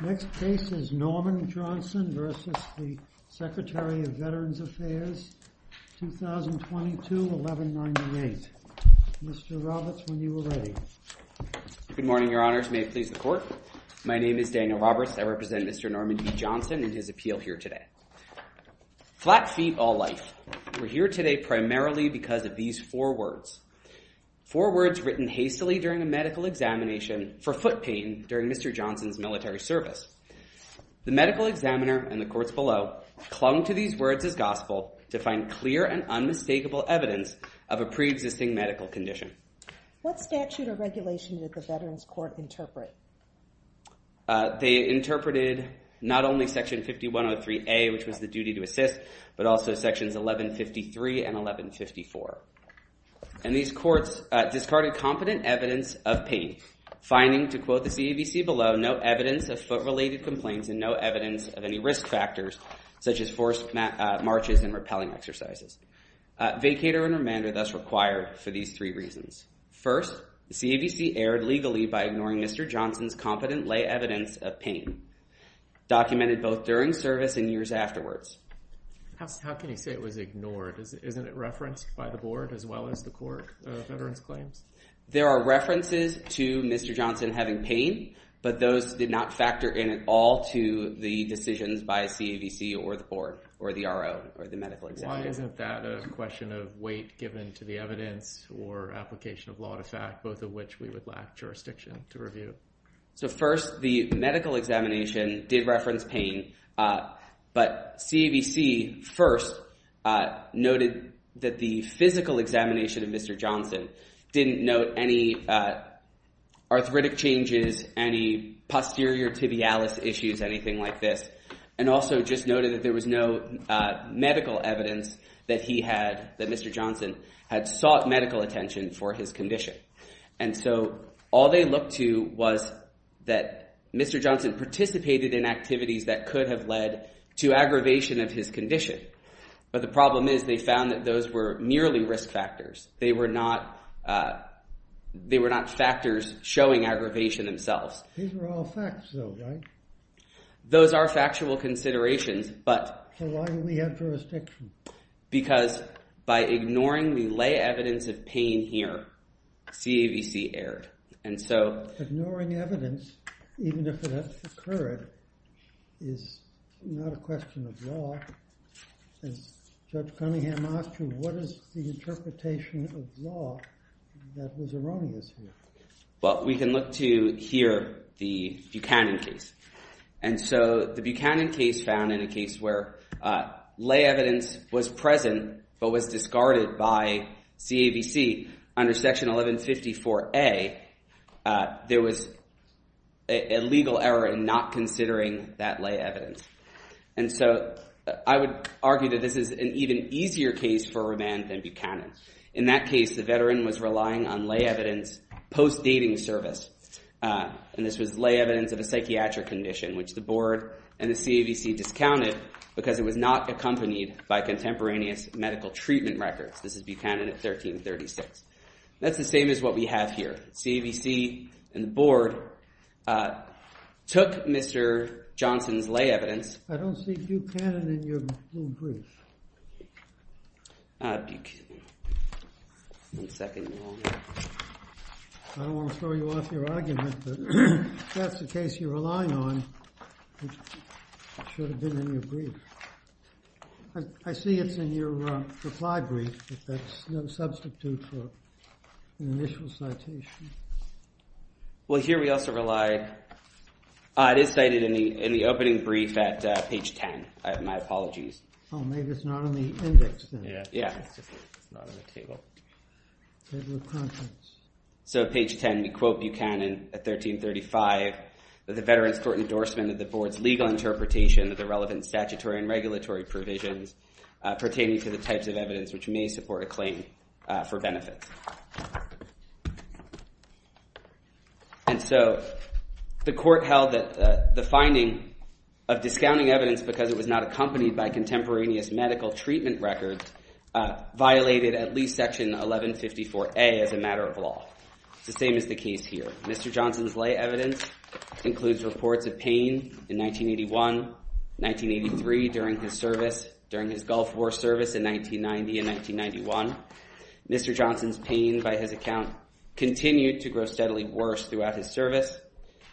Next case is Norman Johnson v. Secretary of Veterans Affairs, 2022-1198. Mr. Roberts when you are ready. Good morning, your honors. May it please the court. My name is Daniel Roberts. I represent Mr. Norman B. Johnson and his appeal here today. Flat feet all life. We're here today primarily because of these four words. Four words written hastily during a medical examination for foot pain during Mr. Johnson's military service. The medical examiner and the courts below clung to these words as gospel to find clear and unmistakable evidence of a pre-existing medical condition. What statute or regulation did the Veterans Court interpret? They interpreted not only section 5103A which was the duty to assist but also sections 1153 and 1154. And these courts discarded competent evidence of pain finding to quote the CAVC below no evidence of foot related complaints and no evidence of any risk factors such as forced marches and repelling exercises. Vacator and remand are thus required for these three reasons. First, the CAVC erred legally by ignoring Mr. Johnson's competent lay evidence of pain documented both during service and years afterwards. How can you say it was ignored? Isn't it referenced by the board as well as the court of veterans claims? There are references to Mr. Johnson having pain but those did not factor in at all to the decisions by CAVC or the board or the RO or the medical examiner. Why isn't that a question of weight given to the evidence or application of law to fact both of which we would lack jurisdiction to review? So first the medical examination did reference pain but CAVC first noted that the physical examination of Mr. Johnson didn't note any arthritic changes, any posterior tibialis issues, anything like this. And also just noted that there was no medical evidence that he had, that Mr. Johnson had sought medical attention for his condition. And so all they looked to was that Mr. Johnson participated in activities that could have led to aggravation of his condition. But the problem is they found that those were merely risk factors. They were not factors showing aggravation themselves. These were all facts though, right? Those are factual considerations but... So why do we have jurisdiction? Because by ignoring the lay evidence of pain here, CAVC erred. And so... Ignoring evidence, even if it has occurred, is not a question of law. As Judge Cunningham asked you, what is the interpretation of law that was erroneous here? Well, we can look to here, the Buchanan case. And so the Buchanan case found in a case where lay evidence was present but was discarded by CAVC under Section 1154A, there was a legal error in not considering that lay evidence. And so I would argue that this is an even easier case for remand than Buchanan. In that case, the veteran was relying on lay evidence post-dating service. And this was lay evidence of a psychiatric condition which the board and the CAVC discounted because it was not accompanied by contemporaneous medical treatment records. This is Buchanan at 1336. That's the same as what we have here. CAVC and the board took Mr. Johnson's lay evidence... I don't see Buchanan in your brief. Ah, Buchanan. One second, Your Honor. I don't want to throw you off your argument, but if that's the case you're relying on, it should have been in your brief. I see it's in your reply brief, but that's no substitute for an initial citation. Well, here we also rely... Ah, it is cited in the opening brief at page 10. My apologies. Oh, maybe it's not on the index then. Yeah. It's not on the table. Table of contents. So page 10, we quote Buchanan at 1335, that the veterans court endorsement of the board's legal interpretation of the relevant statutory and regulatory provisions pertaining to the types of evidence which may support a claim for benefits. And so the court held that the finding of discounting evidence because it was not accompanied by contemporaneous medical treatment records violated at least section 1154A as a matter of law. It's the same as the case here. Mr. Johnson's lay evidence includes reports of pain in 1981, 1983 during his service, during his Gulf War service in 1990 and 1991. Mr. Johnson's pain by his account continued to grow steadily worse throughout his service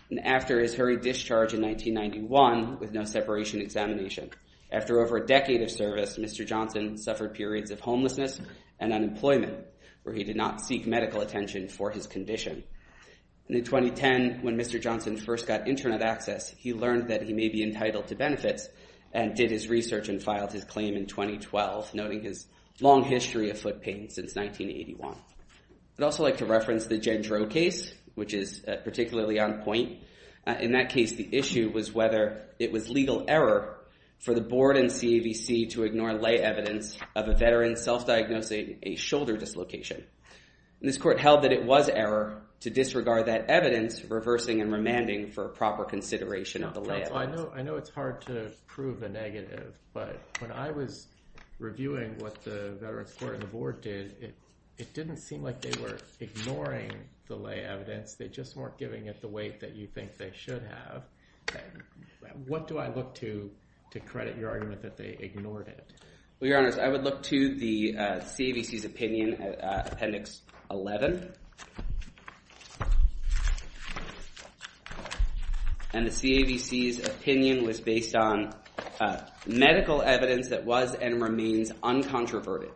and after his hurried discharge in 1991 with no separation examination. After over a decade of service, Mr. Johnson suffered periods of homelessness and unemployment where he did not seek medical attention for his condition. And in 2010, when Mr. Johnson first got internet access, he learned that he may be entitled to benefits and did his research and filed his claim in 2012, noting his long history of foot pain since 1981. I'd also like to reference the Jen Droe case, which is particularly on point. In that case, the issue was whether it was legal error for the board and CAVC to ignore lay evidence of a veteran self-diagnosing a shoulder dislocation. This court held that it was error to disregard that evidence, reversing and remanding for proper consideration of the lay evidence. I know it's hard to prove a negative, but when I was reviewing what the veterans court and the board did, it didn't seem like they were ignoring the lay evidence. They just weren't giving it the weight that you think they should have. What do I look to to credit your argument that they ignored it? Well, Your Honor, I would look to the CAVC's opinion, Appendix 11. And the CAVC's opinion was based on medical evidence that was and remains uncontroverted.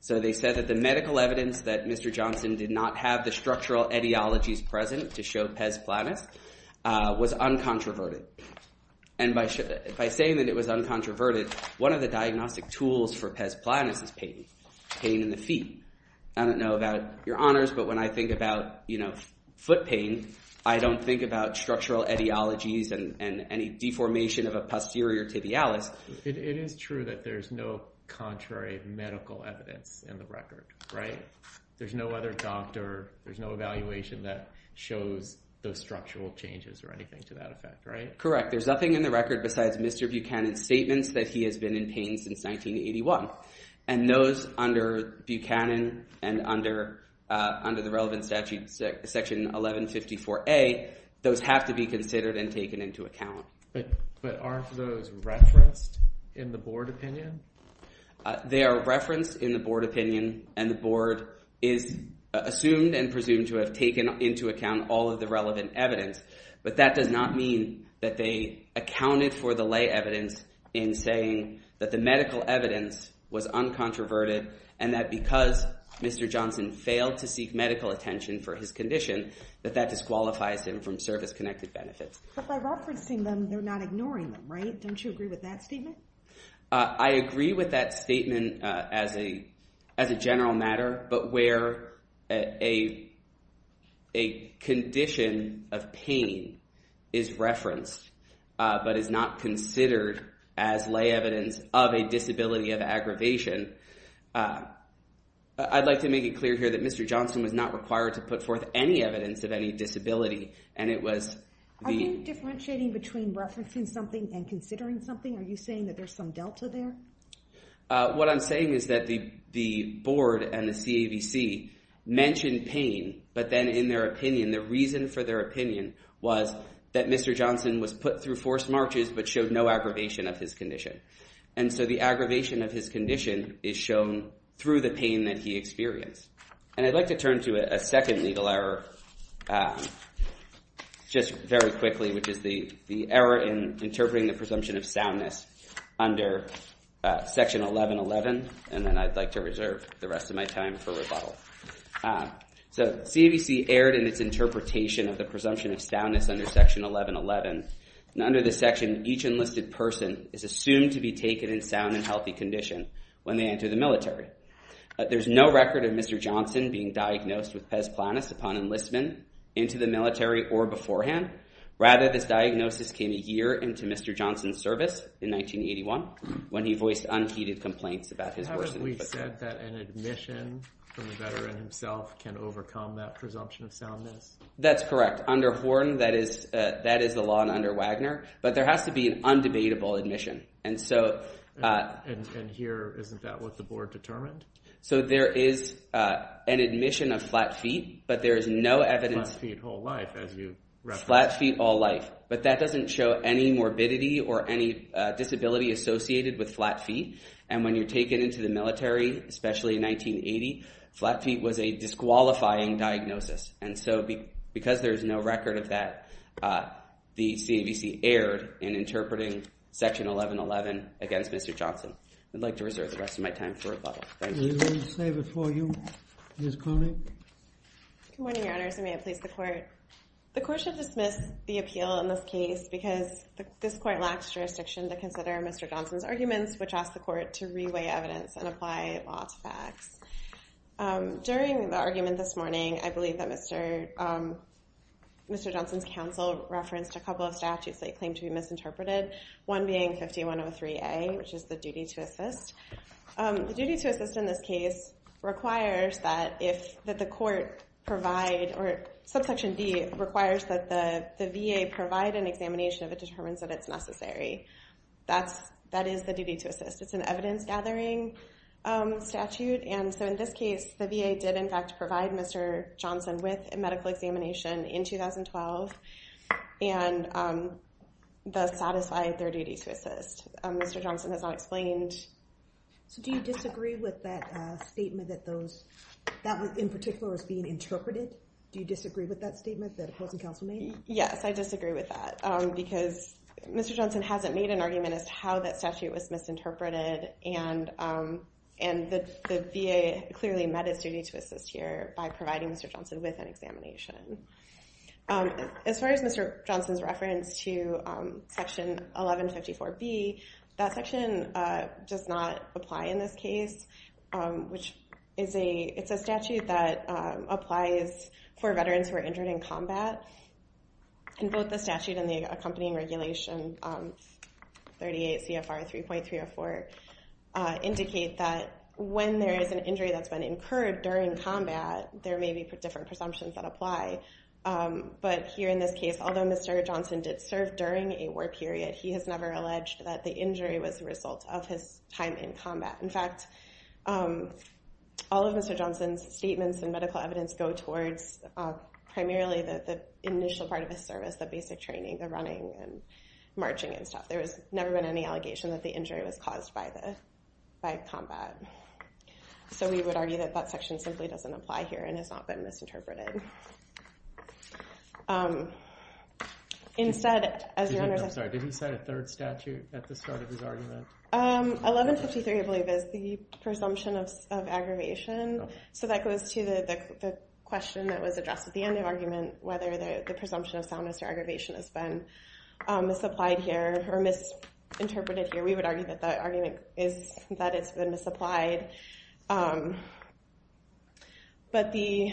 So they said that the medical evidence that Mr. Johnson did not have the structural etiologies present to show pes planus was uncontroverted. And by saying that it was uncontroverted, one of the diagnostic tools for pes planus is pain in the feet. I don't know about Your Honors, but when I think about foot pain, I don't think about structural etiologies and any deformation of a posterior tibialis. It is true that there's no contrary medical evidence in the record, right? There's no other doctor, there's no evaluation that shows those structural changes or anything to that effect, right? Correct. There's nothing in the record besides Mr. Buchanan's statements that he has been in pain since 1981. And those under Buchanan and under the relevant statute, Section 1154A, those have to be considered and taken into account. But aren't those referenced in the board opinion? They are referenced in the board opinion and the board is assumed and presumed to have taken into account all of the relevant evidence. But that does not mean that they accounted for the lay evidence in saying that the medical evidence was uncontroverted and that because Mr. Johnson failed to seek medical attention for his condition, that that disqualifies him from service-connected benefits. But by referencing them, they're not ignoring them, right? Don't you agree with that statement? I agree with that statement as a general matter, but where a condition of pain is referenced, but is not considered as lay evidence of a disability of aggravation, I'd like to make it clear here that Mr. Johnson was not required to put forth any evidence of any disability and it was the... Are you differentiating between referencing something and considering something? Are you saying that there's some delta there? What I'm saying is that the board and the CAVC mentioned pain, but then in their opinion, the reason for their opinion was that Mr. Johnson was put through forced marches but showed no aggravation of his condition. And so the aggravation of his condition is shown through the pain that he experienced. And I'd like to turn to a second legal error just very quickly, which is the error in interpreting the presumption of soundness under Section 1111. And then I'd like to reserve the rest of my time for rebuttal. So CAVC erred in its interpretation of the presumption of soundness under Section 1111. Under this section, each enlisted person is assumed to be taken in sound and healthy condition when they enter the military. There's no record of Mr. Johnson being diagnosed with pes planus upon enlistment into the military or beforehand. Rather, this diagnosis came a year into Mr. Johnson's service in 1981 when he voiced unheeded complaints about his... How is it we've said that an admission from a veteran himself can overcome that presumption of soundness? That's correct. Under Horn, that is the law and under Wagner, but there has to be an undebatable admission. And here, isn't that what the board determined? So there is an admission of flat feet, but there is no evidence... Flat feet all life, as you referenced. Flat feet all life, but that doesn't show any morbidity or any disability associated with flat feet. And when you're taken into the military, especially in 1980, flat feet was a disqualifying diagnosis. And so because there's no record of that, the CAVC erred in interpreting Section 1111 against Mr. Johnson. I'd like to reserve the rest of my time for rebuttals. Thank you. We will save it for you. Ms. Coney. Good morning, Your Honors, and may it please the Court. The Court should dismiss the appeal in this case because this Court lacks jurisdiction to consider Mr. Johnson's arguments, which asks the Court to reweigh evidence and apply law to facts. During the argument this morning, I believe that Mr. Johnson's counsel referenced a couple of statutes that he claimed to be misinterpreted, one being 5103A, which is the duty to assist. The duty to assist in this case requires that the court provide... Subsection D requires that the VA provide an examination if it determines that it's necessary. That is the duty to assist. It's an evidence-gathering statute. And so in this case, the VA did, in fact, provide Mr. Johnson with a medical examination in 2012 and thus satisfied their duty to assist. Mr. Johnson has not explained... So do you disagree with that statement that those...that in particular was being interpreted? Do you disagree with that statement that opposing counsel made? Yes, I disagree with that because Mr. Johnson hasn't made an argument as to how that statute was misinterpreted, and the VA clearly met its duty to assist here by providing Mr. Johnson with an examination. As far as Mr. Johnson's reference to Section 1154B, that section does not apply in this case, which is a...it's a statute that applies for veterans who are injured in combat. And both the statute and the accompanying regulation, 38 CFR 3.304, indicate that when there is an injury that's been incurred during combat, there may be different presumptions that apply. But here in this case, although Mr. Johnson did serve during a war period, he has never alleged that the injury was a result of his time in combat. In fact, all of Mr. Johnson's statements and medical evidence go towards primarily the initial part of his service, the basic training, the running and marching and stuff. There has never been any allegation that the injury was caused by combat. So we would argue that that section simply doesn't apply here and has not been misinterpreted. Instead, as your Honor... I'm sorry, did he set a third statute at the start of his argument? 1153, I believe, is the presumption of aggravation. So that goes to the question that was addressed at the end of the argument, whether the presumption of soundness or aggravation has been misapplied here or misinterpreted here. We would argue that the argument is that it's been misapplied. But the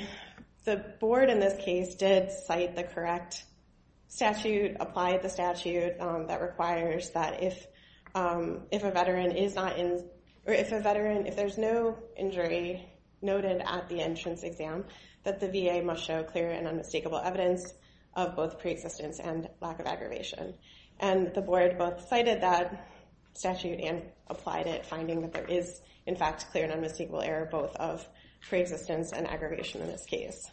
board in this case did cite the correct statute, applied the statute, that requires that if a veteran, if there's no injury noted at the entrance exam, that the VA must show clear and unmistakable evidence of both pre-existence and lack of aggravation. And the board both cited that statute and applied it, finding that there is, in fact, clear and unmistakable error both of pre-existence and aggravation in this case.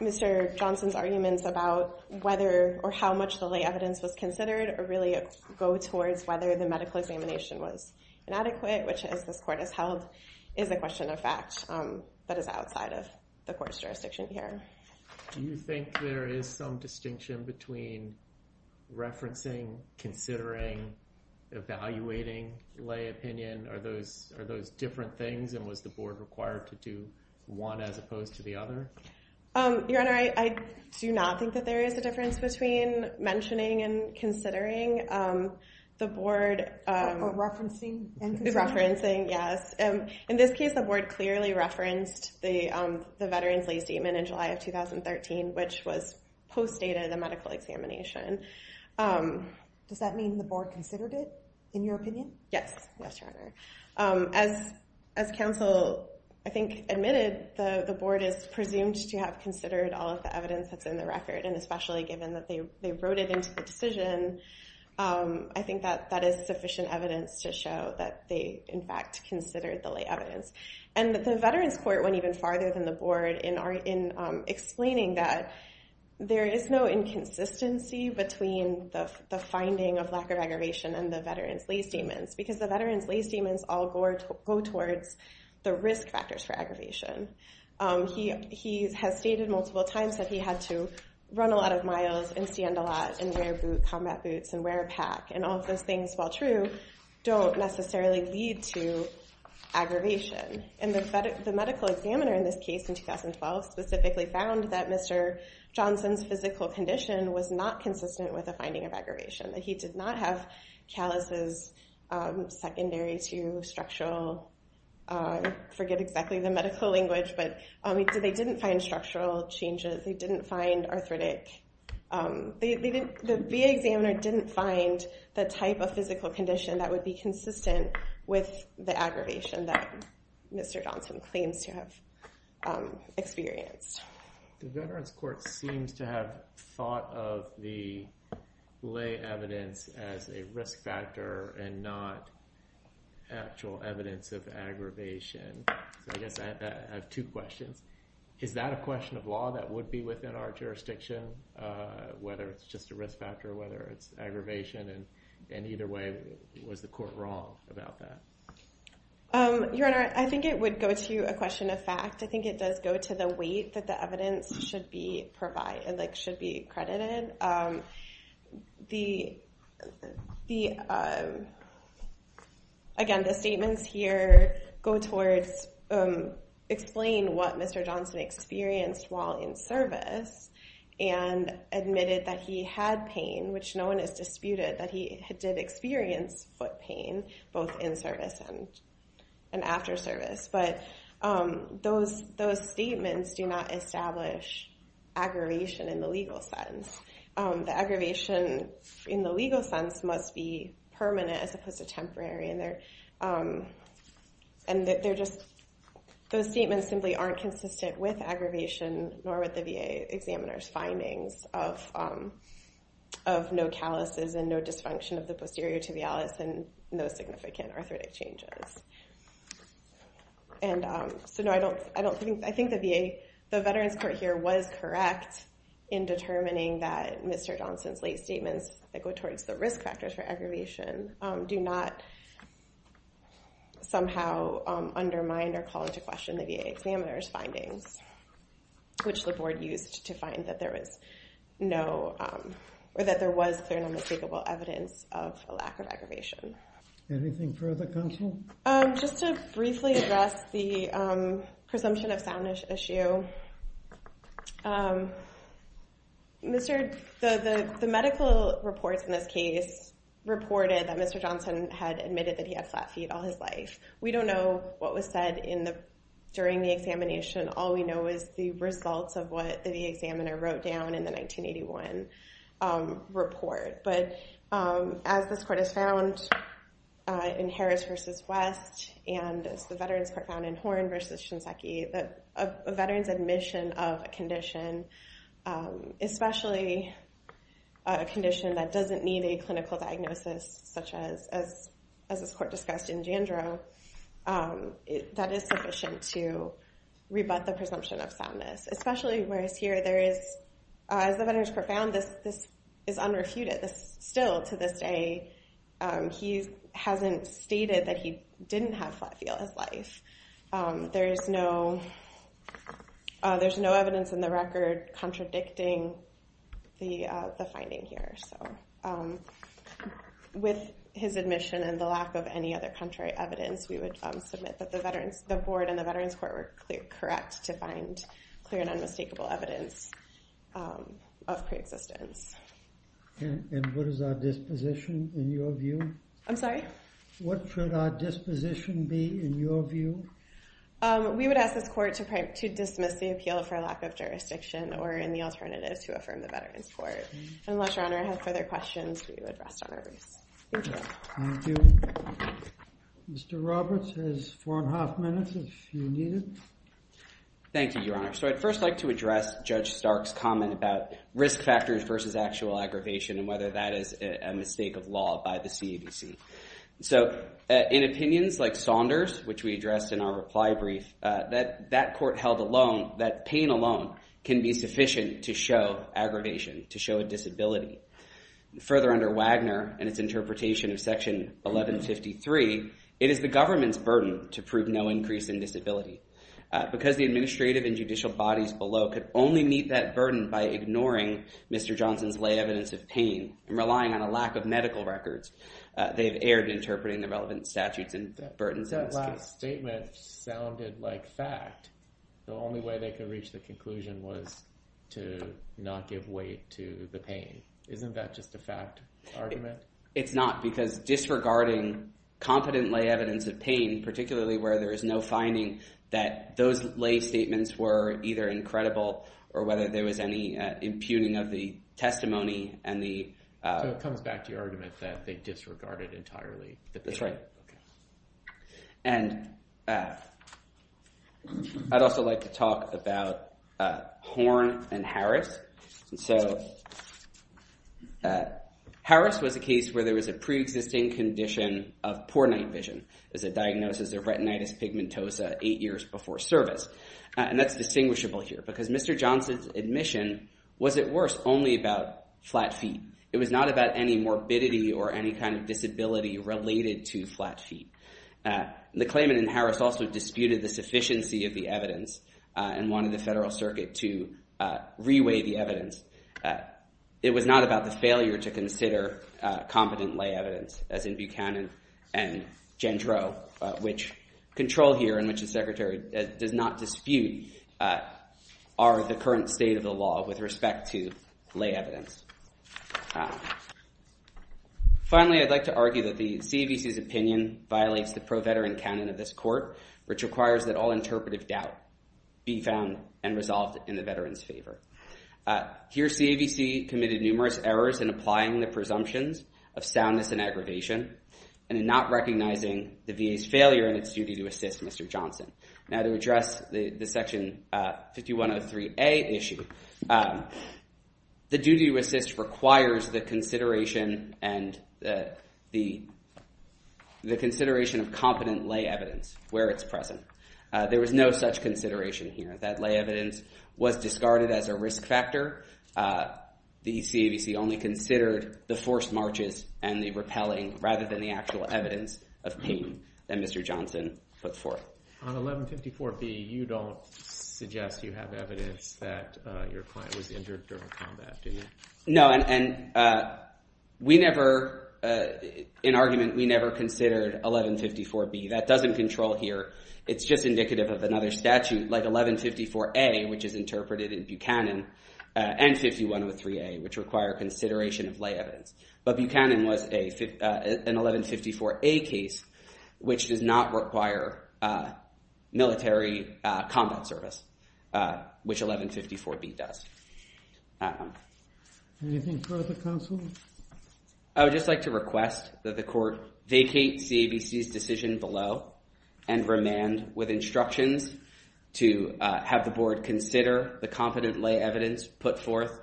Mr. Johnson's arguments about whether or how much the lay evidence was considered really go towards whether the medical examination was inadequate, which, as this court has held, is a question of fact that is outside of the court's jurisdiction here. Do you think there is some distinction between referencing, considering, evaluating lay opinion? Are those different things, and was the board required to do one as opposed to the other? Your Honor, I do not think that there is a difference between mentioning and considering the board. Referencing and considering. Referencing, yes. In this case, the board clearly referenced the veteran's lay statement in July of 2013, which was postdated in the medical examination. Does that mean the board considered it, in your opinion? Yes, yes, Your Honor. As counsel, I think, admitted, the board is presumed to have considered all of the evidence that's in the record, and especially given that they wrote it into the decision, I think that that is sufficient evidence to show that they, in fact, considered the lay evidence. And the veterans court went even farther than the board in explaining that there is no inconsistency between the finding of lack of aggravation and the veterans lay statements, because the veterans lay statements all go towards the risk factors for aggravation. He has stated multiple times that he had to run a lot of miles and stand a lot and wear combat boots and wear a pack, and all of those things, while true, don't necessarily lead to aggravation. And the medical examiner in this case in 2012 specifically found that Mr. Johnson's physical condition was not consistent with the finding of aggravation, that he did not have calluses secondary to structural, I forget exactly the medical language, but they didn't find structural changes. They didn't find arthritic. The VA examiner didn't find the type of physical condition that would be consistent with the aggravation that Mr. Johnson claims to have experienced. The veterans court seems to have thought of the lay evidence as a risk factor and not actual evidence of aggravation. I guess I have two questions. Is that a question of law that would be within our jurisdiction, whether it's just a risk factor, whether it's aggravation, and either way, was the court wrong about that? Your Honor, I think it would go to a question of fact. I think it does go to the weight that the evidence should be credited. Again, the statements here go towards explaining what Mr. Johnson experienced while in service and admitted that he had pain, which no one has disputed that he did experience foot pain, both in service and after service. But those statements do not establish aggravation in the legal sense. The aggravation in the legal sense must be permanent as opposed to temporary, and those statements simply aren't consistent with aggravation, nor with the VA examiner's findings of no calluses and no dysfunction of the posterior tibialis and no significant arthritic changes. So no, I think the Veterans Court here was correct in determining that Mr. Johnson's late statements that go towards the risk factors for aggravation do not somehow undermine or call into question the VA examiner's findings, which the board used to find that there was no or that there was clear and unmistakable evidence of a lack of aggravation. Anything further, counsel? Just to briefly address the presumption of soundness issue, the medical reports in this case reported that Mr. Johnson had admitted that he had flat feet all his life. We don't know what was said during the examination. All we know is the results of what the examiner wrote down in the 1981 report. But as this court has found in Harris v. West and as the Veterans Court found in Horn v. Shinseki, a veteran's admission of a condition, especially a condition that doesn't need a clinical diagnosis, such as this court discussed in Jandro, that is sufficient to rebut the presumption of soundness. Especially whereas here, as the Veterans Court found, this is unrefuted. Still, to this day, he hasn't stated that he didn't have flat feet all his life. There is no evidence in the record contradicting the finding here. With his admission and the lack of any other contrary evidence, we would submit that the board and the Veterans Court were correct to find clear and unmistakable evidence of preexistence. And what is our disposition in your view? I'm sorry? What should our disposition be in your view? We would ask this court to dismiss the appeal for lack of jurisdiction or any alternatives to affirm the Veterans Court. Unless Your Honor has further questions, we would rest on our boots. Thank you. Mr. Roberts has four and a half minutes if you need it. Thank you, Your Honor. So I'd first like to address Judge Stark's comment about risk factors versus actual aggravation and whether that is a mistake of law by the CABC. So in opinions like Saunders, which we addressed in our reply brief, that that court held alone, that pain alone can be sufficient to show aggravation, to show a disability. Further under Wagner and its interpretation of Section 1153, it is the government's burden to prove no increase in disability. Because the administrative and judicial bodies below could only meet that burden by ignoring Mr. Johnson's lay evidence of pain and relying on a lack of medical records. They have erred in interpreting the relevant statutes and burdens in this case. That last statement sounded like fact. The only way they could reach the conclusion was to not give weight to the pain. Isn't that just a fact argument? It's not because disregarding competent lay evidence of pain, particularly where there is no finding that those lay statements were either incredible or whether there was any impugning of the testimony and the— So it comes back to your argument that they disregarded entirely the pain. That's right. And I'd also like to talk about Horne and Harris. So Harris was a case where there was a preexisting condition of poor night vision. It was a diagnosis of retinitis pigmentosa eight years before service. And that's distinguishable here because Mr. Johnson's admission was, at worst, only about flat feet. It was not about any morbidity or any kind of disability related to flat feet. The claimant and Harris also disputed the sufficiency of the evidence and wanted the Federal Circuit to reweigh the evidence. It was not about the failure to consider competent lay evidence, as in Buchanan and Gendreau, which control here and which the Secretary does not dispute are the current state of the law with respect to lay evidence. Finally, I'd like to argue that the CAVC's opinion violates the pro-veteran canon of this court, which requires that all interpretive doubt be found and resolved in the veteran's favor. Here, CAVC committed numerous errors in applying the presumptions of soundness and aggravation and in not recognizing the VA's failure in its duty to assist Mr. Johnson. Now, to address the Section 5103A issue, the duty to assist requires the consideration and the consideration of competent lay evidence where it's present. There was no such consideration here. That lay evidence was discarded as a risk factor. The CAVC only considered the forced marches and the repelling rather than the actual evidence of pain that Mr. Johnson put forth. On 1154B, you don't suggest you have evidence that your client was injured during combat, do you? No, and we never—in argument, we never considered 1154B. That doesn't control here. It's just indicative of another statute like 1154A, which is interpreted in Buchanan and 5103A, which require consideration of lay evidence. But Buchanan was an 1154A case, which does not require military combat service, which 1154B does. Anything further, counsel? I would just like to request that the court vacate CAVC's decision below and remand with instructions to have the board consider the competent lay evidence put forth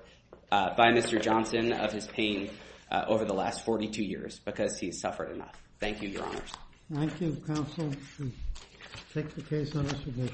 by Mr. Johnson of his pain over the last 42 years because he has suffered enough. Thank you, Your Honors. Thank you, counsel. We take the case under submission.